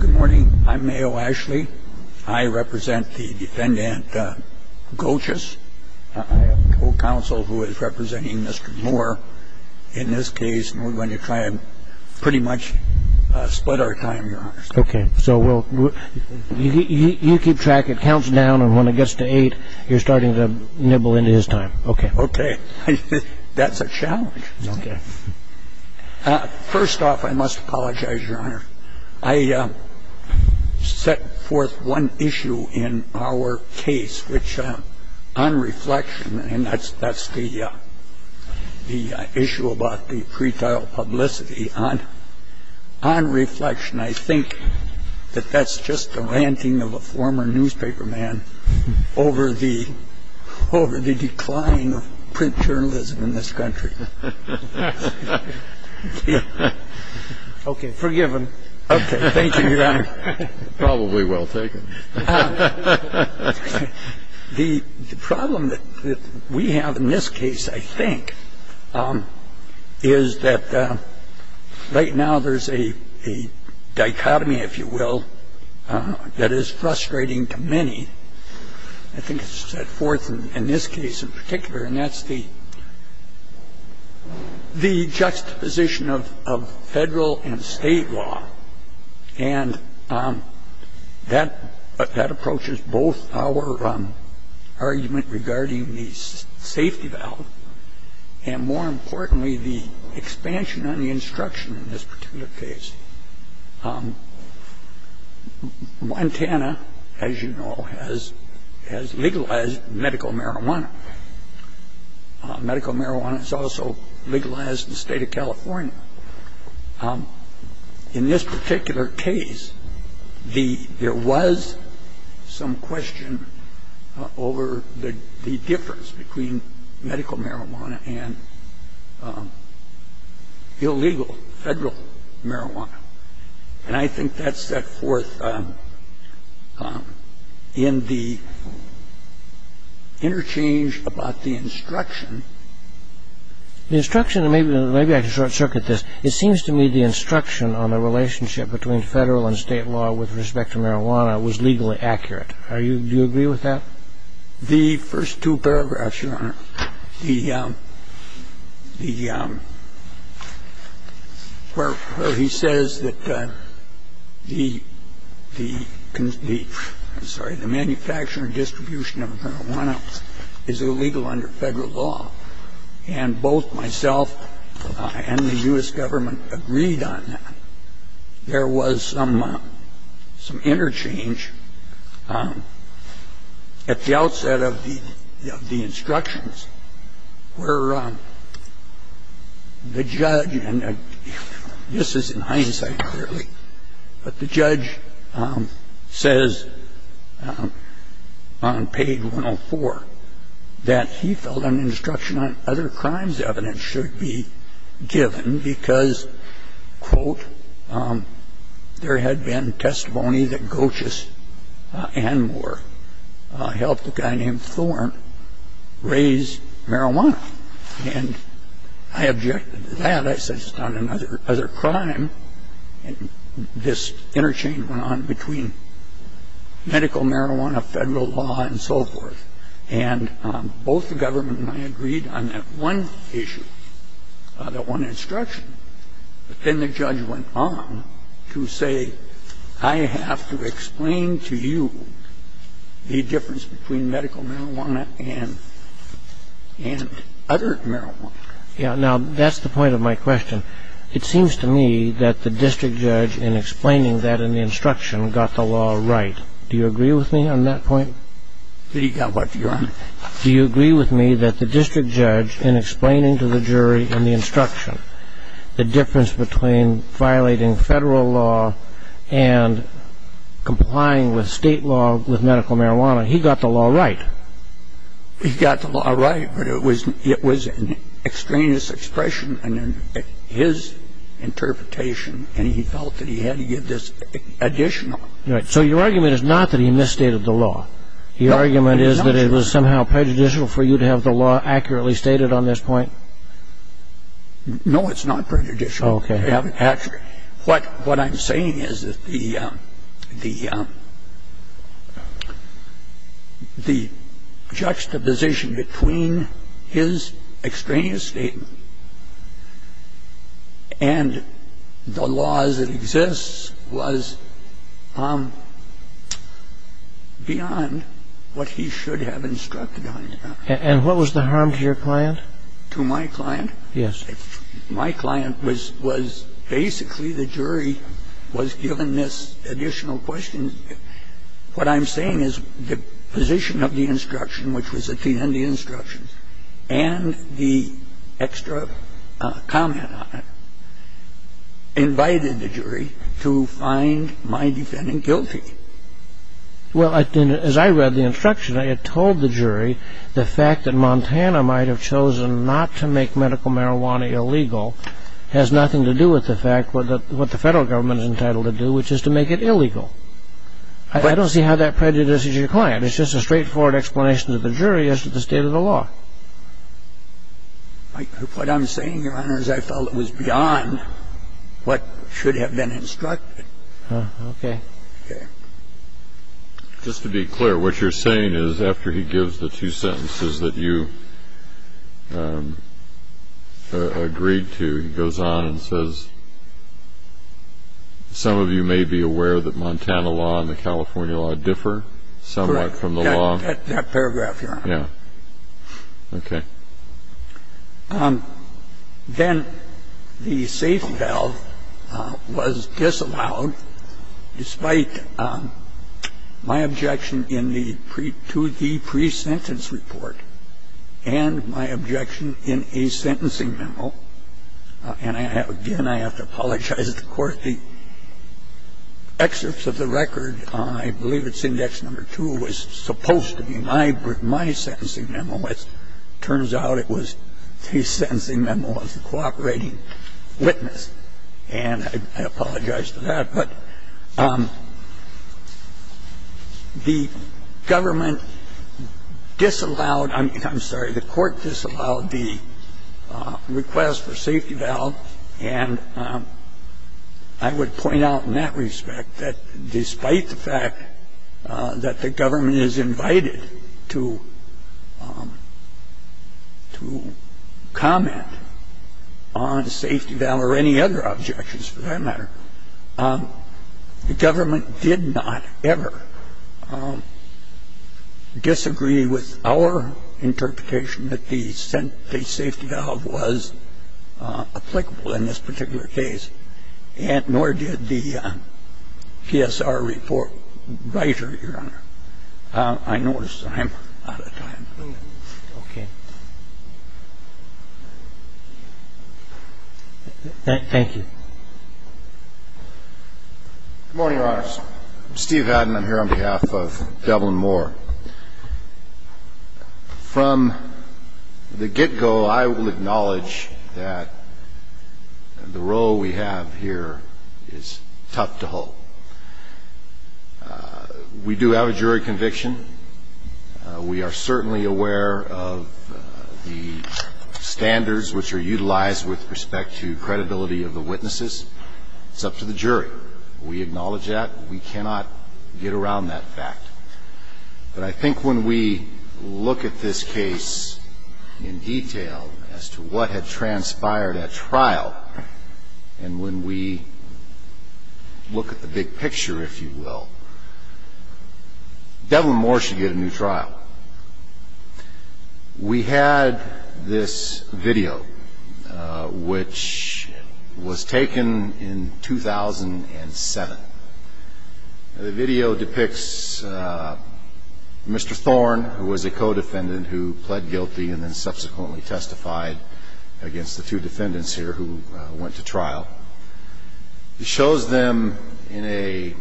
Good morning. I'm Mayo Ashley. I represent the defendant Gochis. I have a co-counsel who is representing Mr. Moore in this case, and we're going to try and pretty much split our time, Your Honor. Okay. So you keep track. It counts down, and when it gets to eight, you're starting to nibble into his time. Okay. Okay. That's a challenge. Okay. First off, I must apologize, Your Honor. I set forth one issue in our case, which on reflection, and that's the issue about the pretrial publicity. On reflection, I think that that's just the ranting of a former newspaperman over the decline of print journalism in this country. Okay. Forgiven. Okay. Thank you, Your Honor. Probably well taken. The problem that we have in this case, I think, is that right now there's a dichotomy, if you will, that is frustrating to many. I think it's set forth in this case in particular, and that's the juxtaposition of Federal and State law. And that approaches both our argument regarding the safety valve and, more importantly, the expansion on the instruction in this particular case. Montana, as you know, has legalized medical marijuana. Medical marijuana is also legalized in the state of California. In this particular case, there was some question over the difference between medical marijuana and illegal Federal marijuana. And I think that's set forth in the interchange about the instruction. The instruction, and maybe I can short-circuit this, it seems to me the instruction on the relationship between Federal and State law with respect to marijuana was legally accurate. Do you agree with that? The, where he says that the, I'm sorry, the manufacture and distribution of marijuana is illegal under Federal law. And both myself and the U.S. government agreed on that. There was some interchange at the outset of the instructions where the judge, and this is in hindsight clearly, but the judge says on page 104 that he felt an instruction on other crimes evidence should be given because, quote, there had been testimony that Goetjes and Moore helped a guy named Thorne raise marijuana. And I objected to that. I said it's not another crime. And this interchange went on between medical marijuana, Federal law, and so forth. And both the government and I agreed on that one issue, that one instruction. But then the judge went on to say I have to explain to you the difference between medical marijuana and other marijuana. Yeah. Now, that's the point of my question. It seems to me that the district judge in explaining that in the instruction got the law right. Do you agree with me on that point? He got what, Your Honor? Do you agree with me that the district judge in explaining to the jury in the instruction the difference between violating Federal law and complying with State law with medical marijuana, he got the law right? He got the law right, but it was an extraneous expression in his interpretation, and he felt that he had to give this additional. So your argument is not that he misstated the law. Your argument is that it was somehow prejudicial for you to have the law accurately stated on this point? No, it's not prejudicial. He got the law right. Actually, what I'm saying is that the juxtaposition between his extraneous statement and the laws that exist was beyond what he should have instructed on. And what was the harm to your client? To my client? Yes. My client was basically the jury was given this additional question. What I'm saying is the position of the instruction, which was at the end of the instruction, and the extra comment on it, invited the jury to find my defendant guilty. Well, as I read the instruction, it told the jury the fact that Montana might have chosen not to make medical marijuana illegal has nothing to do with the fact I don't see how that prejudices your client. It's just a straightforward explanation to the jury as to the state of the law. What I'm saying, Your Honor, is I felt it was beyond what should have been instructed. Okay. Okay. Just to be clear, what you're saying is after he gives the two sentences that you agreed to, he goes on and says some of you may be aware that Montana law and the California law differ somewhat from the law. Correct. That paragraph, Your Honor. Yeah. Okay. Then the safe valve was disallowed despite my objection to the pre-sentence report and my objection in a sentencing memo. And, again, I have to apologize to the Court. The excerpts of the record, I believe it's index number two, was supposed to be my sentencing memo. As it turns out, it was the sentencing memo of the cooperating witness. And I apologize for that. But the government disallowed, I'm sorry, the court disallowed the request for safety valve. And I would point out in that respect that despite the fact that the government is invited to comment on safety valve or any other objections for that matter, the government did not ever disagree with our interpretation that the safety valve was applicable in this particular case, nor did the PSR report writer, Your Honor. I notice I'm out of time. Okay. Thank you. Good morning, Your Honors. I'm Steve Haddon. I'm here on behalf of Devlin Moore. From the get-go, I will acknowledge that the role we have here is tough to hold. We do have a jury conviction. We are certainly aware of the standards which are utilized with respect to credibility of the witnesses. It's up to the jury. We acknowledge that. We cannot get around that fact. But I think when we look at this case in detail as to what had transpired at trial, and when we look at the big picture, if you will, Devlin Moore should get a new trial. We had this video which was taken in 2007. The video depicts Mr. Thorne, who was a co-defendant who pled guilty and then subsequently testified against the two defendants here who went to trial. It shows them in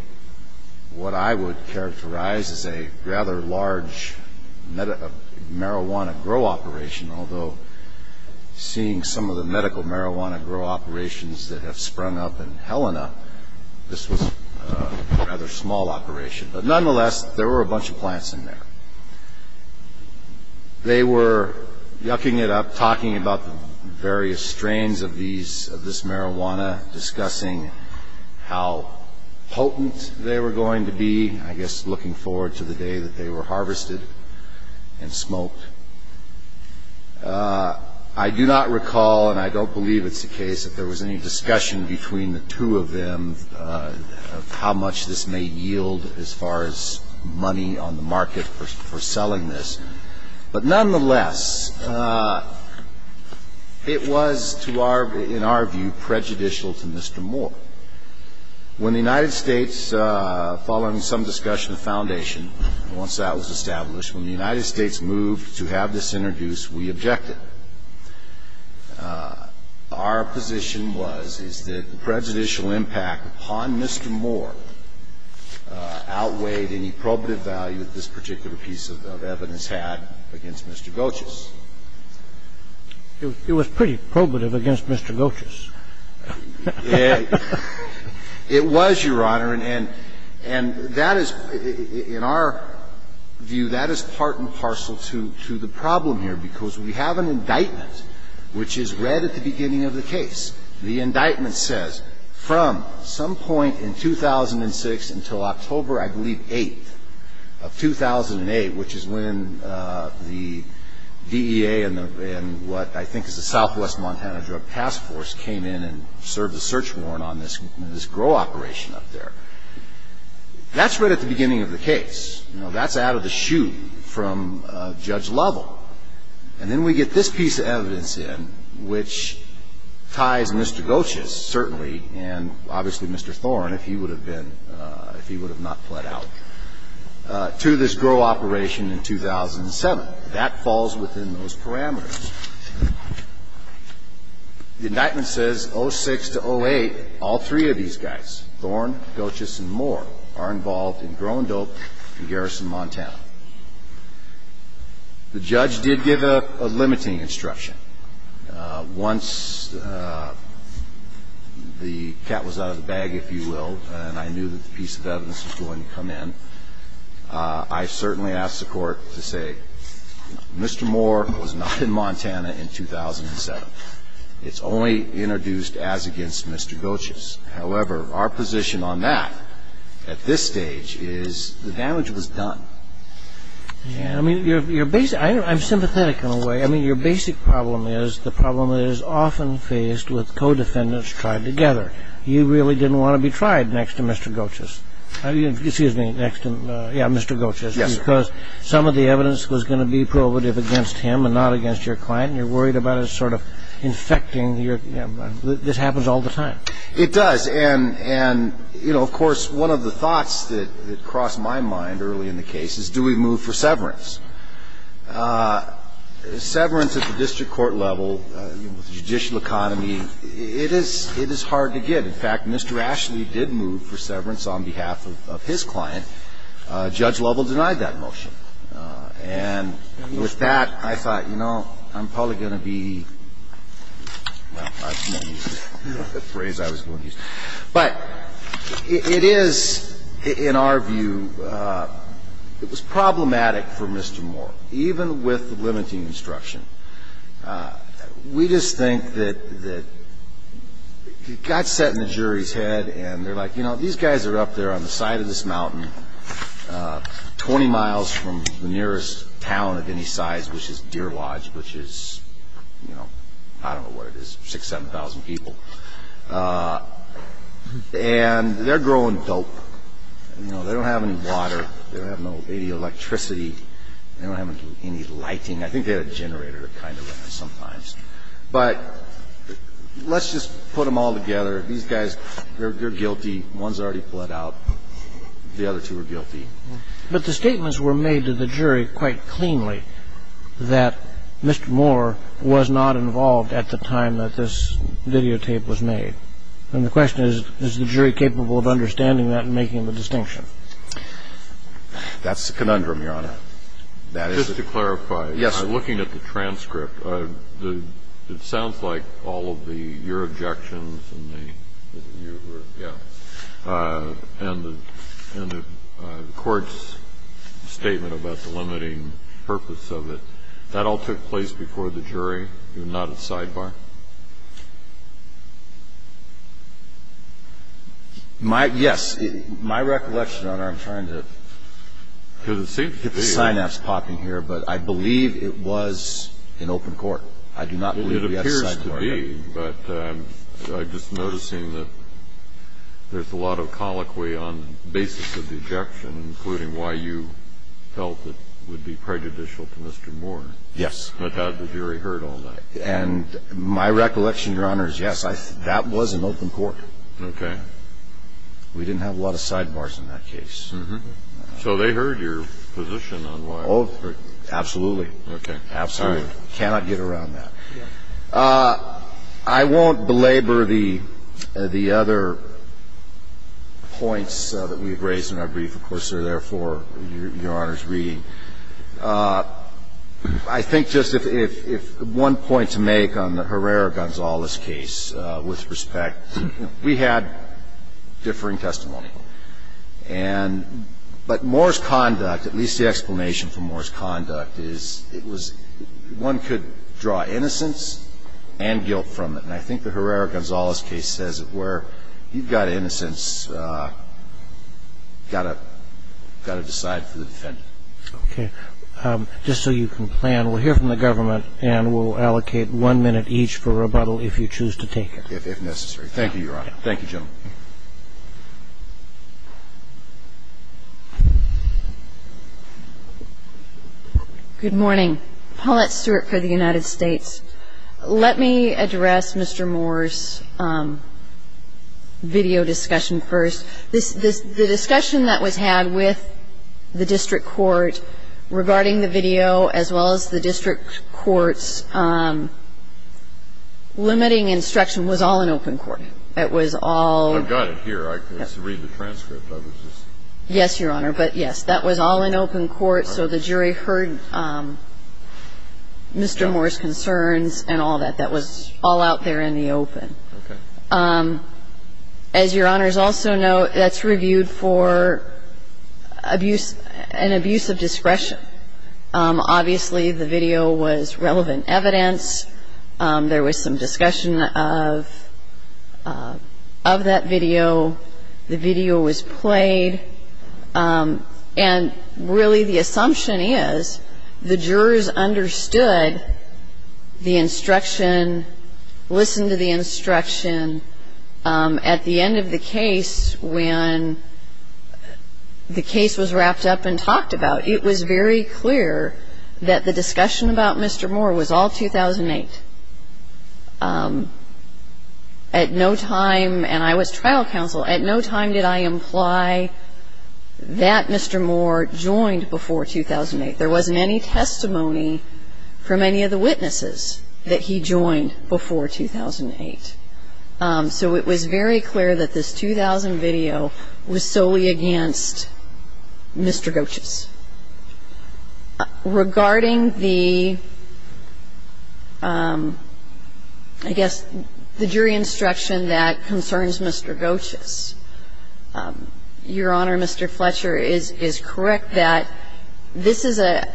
what I would characterize as a rather large marijuana grow operation, although seeing some of the medical marijuana grow operations that have sprung up in Helena, this was a rather small operation. But nonetheless, there were a bunch of plants in there. They were yucking it up, talking about the various strains of this marijuana, discussing how potent they were going to be, I guess looking forward to the day that they were harvested and smoked. I do not recall, and I don't believe it's the case, if there was any discussion between the two of them of how much this may yield as far as money on the market for selling this. But nonetheless, it was, in our view, prejudicial to Mr. Moore. When the United States, following some discussion at the Foundation, once that was established, when the United States moved to have this introduced, we objected. We objected to the fact that Mr. Moore had not been involved in any of this. Our position was, is that the prejudicial impact upon Mr. Moore outweighed any probative value that this particular piece of evidence had against Mr. Goetjes. It was pretty probative against Mr. Goetjes. It was, Your Honor, and that is, in our view, that is part and parcel to the problem here, because we have an indictment which is read at the beginning of the case. The indictment says, from some point in 2006 until October, I believe, 8th of 2008, which is when the DEA and what I think is the Southwest Montana Drug Task Force came in and served a search warrant on this GROW operation up there. That's read at the beginning of the case. That's out of the chute from Judge Lovell. And then we get this piece of evidence in, which ties Mr. Goetjes, certainly, and obviously Mr. Thorne, if he would have been, if he would have not fled out, to this GROW operation in 2007. That falls within those parameters. The indictment says, 06 to 08, all three of these guys, Thorne, Goetjes, and Moore, are involved in GROW and DOPE in Garrison, Montana. The judge did give a limiting instruction. Once the cat was out of the bag, if you will, and I knew that the piece of evidence was going to come in, I certainly asked the Court to say, Mr. Moore was not in Montana in 2007. It's only introduced as against Mr. Goetjes. However, our position on that at this stage is the damage was done. I mean, I'm sympathetic in a way. I mean, your basic problem is the problem that is often faced with co-defendants tried together. You really didn't want to be tried next to Mr. Goetjes. Excuse me, next to Mr. Goetjes. Yes, sir. Because some of the evidence was going to be probative against him and not against your client, and you're worried about it sort of infecting. This happens all the time. It does. And, you know, of course, one of the thoughts that crossed my mind early in the case is, do we move for severance? Severance at the district court level, the judicial economy, it is hard to get. In fact, Mr. Ashley did move for severance on behalf of his client. Judge Lovell denied that motion. And with that, I thought, you know, I'm probably going to be, well, I'm not going to use the phrase I was going to use. But it is, in our view, it was problematic for Mr. Moore. Even with the limiting instruction, we just think that it got set in the jury's head and they're like, you know, these guys are up there on the side of this mountain, 20 miles from the nearest town of any size, which is Deer Lodge, which is, you know, I don't know what it is, 6,000, 7,000 people. And they're growing dope. You know, they don't have any water. They don't have any electricity. They don't have any lighting. I think they had a generator kind of in there sometimes. But let's just put them all together. These guys, they're guilty. One's already pled out. The other two are guilty. But the statements were made to the jury quite cleanly that Mr. Moore was not involved at the time that this videotape was made. And the question is, is the jury capable of understanding that and making the distinction? That's the conundrum, Your Honor. Just to clarify, looking at the transcript, it sounds like all of your objections and the court's statement about the limiting purpose of it, that all took place before the jury? You were not a sidebar? Yes. My recollection, Your Honor, I'm trying to get the synapse popping here, but I believe it was an open court. I do not believe we had a sidebar. But I'm just noticing that there's a lot of colloquy on the basis of the objection, including why you felt it would be prejudicial to Mr. Moore. Yes. But had the jury heard all that? And my recollection, Your Honor, is, yes, that was an open court. Okay. We didn't have a lot of sidebars in that case. So they heard your position on why? Absolutely. Okay. Absolutely. I'm sorry. You have to stop. I cannot get around that. I won't belabor the other points that we've raised in our brief, of course, that are there for Your Honor's reading. I think just if one point to make on the Herrera-Gonzalez case with respect, we had differing testimony. And but Moore's conduct, at least the explanation for Moore's conduct, is it was one could draw innocence and guilt from it. And I think the Herrera-Gonzalez case says it where you've got innocence, And so I think that's a point that's got to decide for the defendant. Okay. Just so you can plan, we'll hear from the government, and we'll allocate one minute each for rebuttal if you choose to take it. If necessary. Thank you, Your Honor. Thank you, gentlemen. Good morning. Paulette Stewart for the United States. Let me address Mr. Moore's video discussion first. The discussion that was had with the district court regarding the video, as well as the district court's limiting instruction was all in open court. I've got it here. I just read the transcript. Yes, Your Honor. But, yes, that was all in open court. So the jury heard Mr. Moore's concerns and all that. That was all out there in the open. Okay. As Your Honors also know, that's reviewed for an abuse of discretion. Obviously, the video was relevant evidence. There was some discussion of that video. The video was played. And, really, the assumption is the jurors understood the instruction, listened to the instruction. At the end of the case, when the case was wrapped up and talked about, it was very clear that the discussion about Mr. Moore was all 2008. At no time, and I was trial counsel, at no time did I imply that Mr. Moore joined before 2008. There wasn't any testimony from any of the witnesses that he joined before 2008. So it was very clear that this 2000 video was solely against Mr. Goetsch's. Regarding the, I guess, the jury instruction that concerns Mr. Goetsch's, Your Honor, Mr. Fletcher is correct that this is a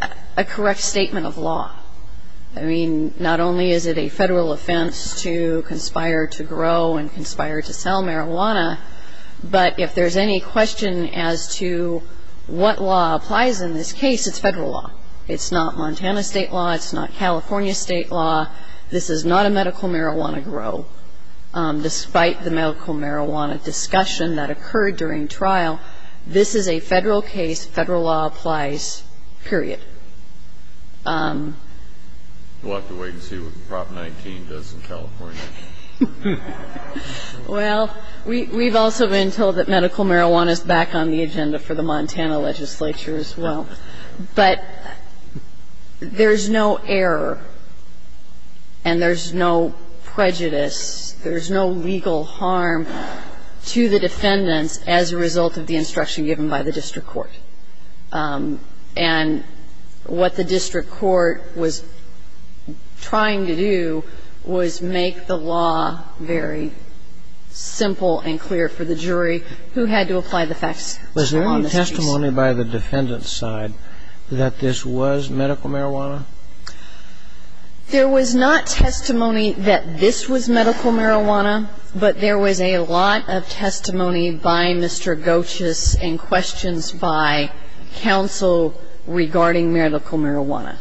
correct statement of law. I mean, not only is it a federal offense to conspire to grow and conspire to sell marijuana, but if there's any question as to what law applies in this case, it's federal law. It's not Montana state law. It's not California state law. This is not a medical marijuana grow. Despite the medical marijuana discussion that occurred during trial, this is a federal case, federal law applies, period. We'll have to wait and see what Prop 19 does in California. Well, we've also been told that medical marijuana is back on the agenda for the Montana legislature as well. But there's no error and there's no prejudice, there's no legal harm to the defendants as a result of the instruction given by the district court. And what the district court was trying to do was make the law very simple and clear for the jury who had to apply the facts. Was there any testimony by the defendant's side that this was medical marijuana? There was not testimony that this was medical marijuana, but there was a lot of testimony by Mr. Gochis and questions by counsel regarding medical marijuana.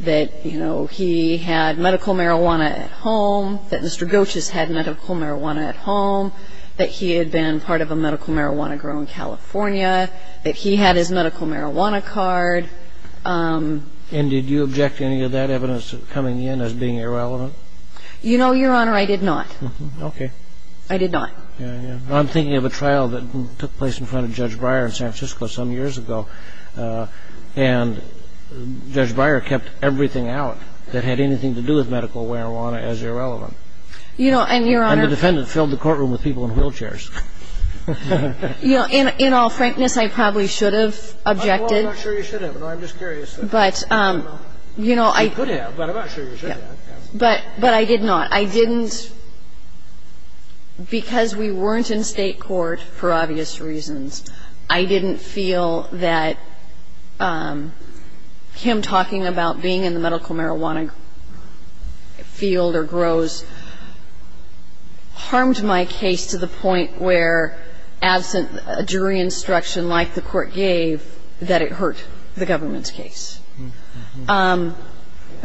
That, you know, he had medical marijuana at home, that Mr. Gochis had medical marijuana at home, that he had been part of a medical marijuana grow in California, that he had his medical marijuana card. And did you object to any of that evidence coming in as being irrelevant? You know, Your Honor, I did not. Okay. I did not. I'm thinking of a trial that took place in front of Judge Breyer in San Francisco some years ago, and Judge Breyer kept everything out that had anything to do with medical marijuana as irrelevant. And the defendant filled the courtroom with people in wheelchairs. In all frankness, I probably should have objected. Well, I'm not sure you should have, and I'm just curious whether or not you could have, but I'm not sure you should have. But I did not. I didn't because we weren't in state court, for obvious reasons. I didn't feel that him talking about being in the medical marijuana field or grows harmed my case to the point where, absent jury instruction like the court gave, that it hurt the government's case.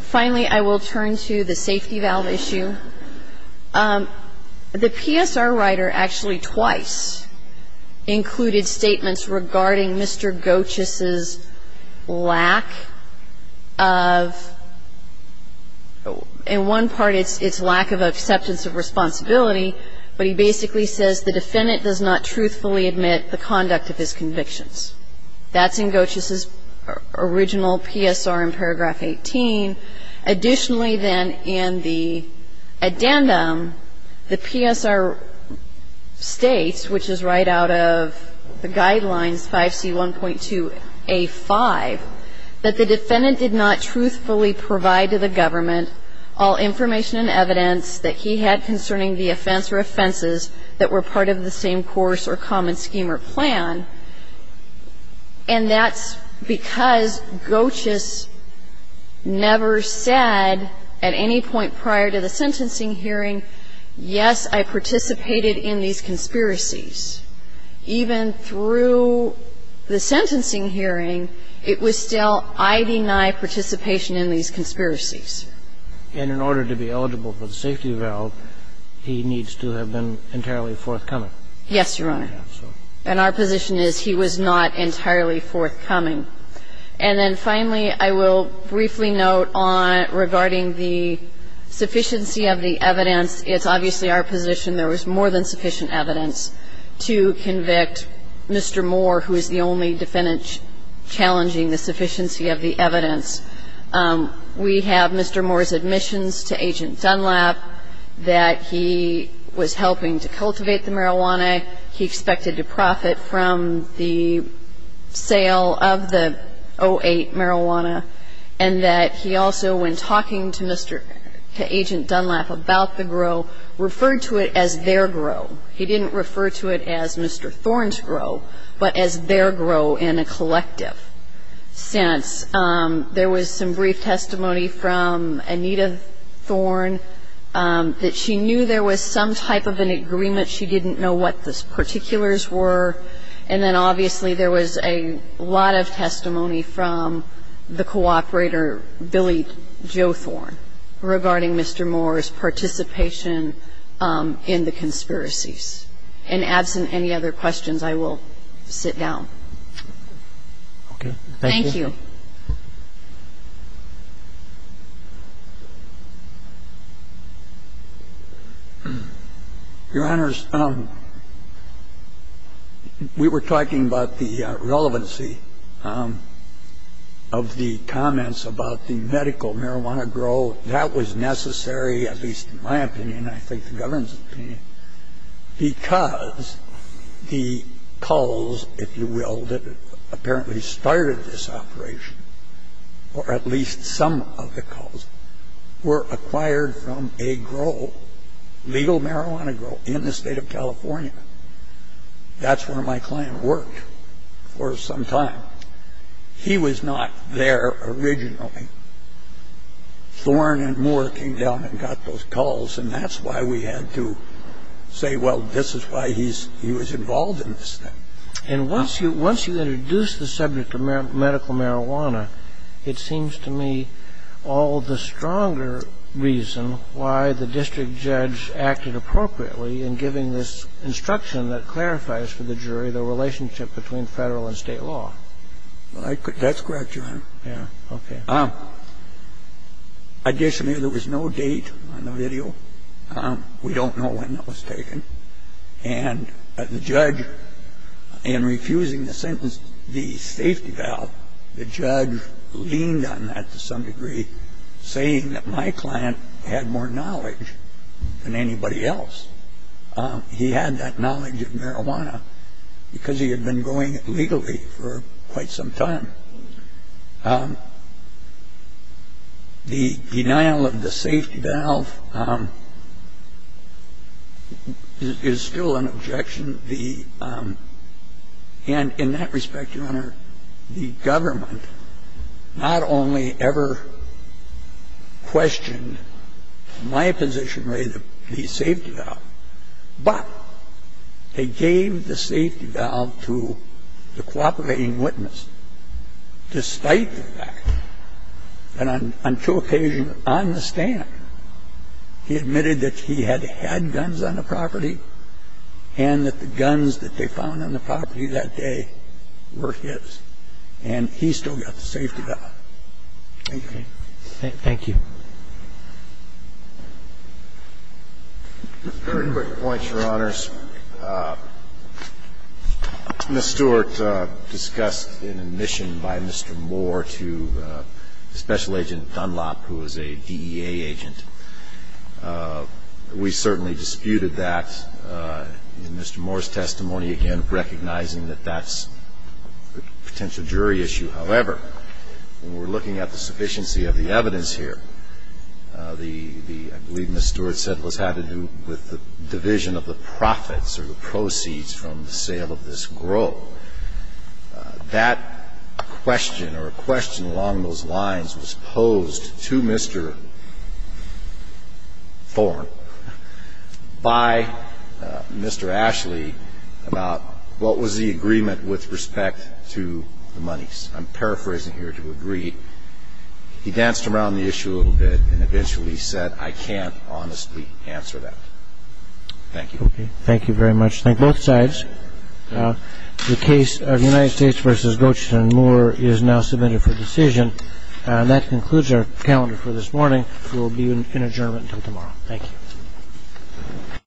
Finally, I will turn to the safety valve issue. The PSR writer actually twice included statements regarding Mr. Gochis's lack of, in one part it's lack of acceptance of responsibility, but he basically says the defendant does not truthfully admit the conduct of his convictions. That's in Gochis's original PSR in paragraph 18. Additionally, then, in the addendum, the PSR states, which is right out of the guidelines, 5C1.2A5, that the defendant did not truthfully provide to the government all information and evidence that he had concerning the offense or offenses that were part of the same course or common scheme or plan, and that's because Gochis never said at any point prior to the sentencing hearing, yes, I participated in these conspiracies. Even through the sentencing hearing, it was still, I deny participation in these conspiracies. And in order to be eligible for the safety valve, he needs to have been entirely forthcoming. Yes, Your Honor. And our position is he was not entirely forthcoming. And then finally, I will briefly note on regarding the sufficiency of the evidence. It's obviously our position there was more than sufficient evidence to convict Mr. Moore, who is the only defendant challenging the sufficiency of the evidence. We have Mr. Moore's admissions to Agent Dunlap, that he was helping to cultivate the marijuana, he expected to profit from the sale of the 08 marijuana, and that he also, when talking to Agent Dunlap about the grow, referred to it as their grow. He didn't refer to it as Mr. Thorne's grow, but as their grow in a collective sense. There was some brief testimony from Anita Thorne that she knew there was some type of an agreement. She didn't know what the particulars were. And then obviously there was a lot of testimony from the cooperator, Billy Jo Thorne, regarding Mr. Moore's participation in the conspiracies. And absent any other questions, I will sit down. Okay. Thank you. Your Honor, we were talking about the relevancy of the comments about the medical marijuana grow. That was necessary, at least in my opinion, I think the government's opinion, because the culls, if you will, that apparently started this operation, or at least some of the culls were acquired from a grow, legal marijuana grow, in the state of California. That's where my client worked for some time. He was not there originally. And so we had to say, well, this is why he was involved in this thing. And once you introduce the subject of medical marijuana, it seems to me all the stronger reason why the district judge acted appropriately in giving this instruction that clarifies for the jury the relationship between Federal and State law. That's correct, Your Honor. Yeah. Okay. Additionally, there was no date on the video. We don't know when that was taken. And the judge, in refusing the sentence, the safety valve, the judge leaned on that to some degree, saying that my client had more knowledge than anybody else. He had that knowledge of marijuana because he had been going legally for quite some time. The denial of the safety valve is still an objection. And in that respect, Your Honor, the government not only ever questioned my position related to the safety valve, but they gave the safety valve to the cooperating witness despite the fact that on two occasions on the stand, he admitted that he had had guns on the property and that the guns that they found on the property that day were his, and he still got the safety valve. Thank you. Thank you. A very quick point, Your Honors. Ms. Stewart discussed an admission by Mr. Moore to Special Agent Dunlop, who was a DEA agent. We certainly disputed that in Mr. Moore's testimony, again, recognizing that that's a potential jury issue. However, when we're looking at the sufficiency of the evidence here, I believe Ms. Stewart said it had to do with the division of the profits or the proceeds from the sale of this grow. So that question or a question along those lines was posed to Mr. Thorne by Mr. Ashley about what was the agreement with respect to the monies. I'm paraphrasing here to agree. He danced around the issue a little bit and eventually said, I can't honestly answer that. Thank you. Okay. Thank you very much. Thank you, both sides. The case of United States v. Goetting and Moore is now submitted for decision. That concludes our calendar for this morning. We'll be in adjournment until tomorrow. Thank you.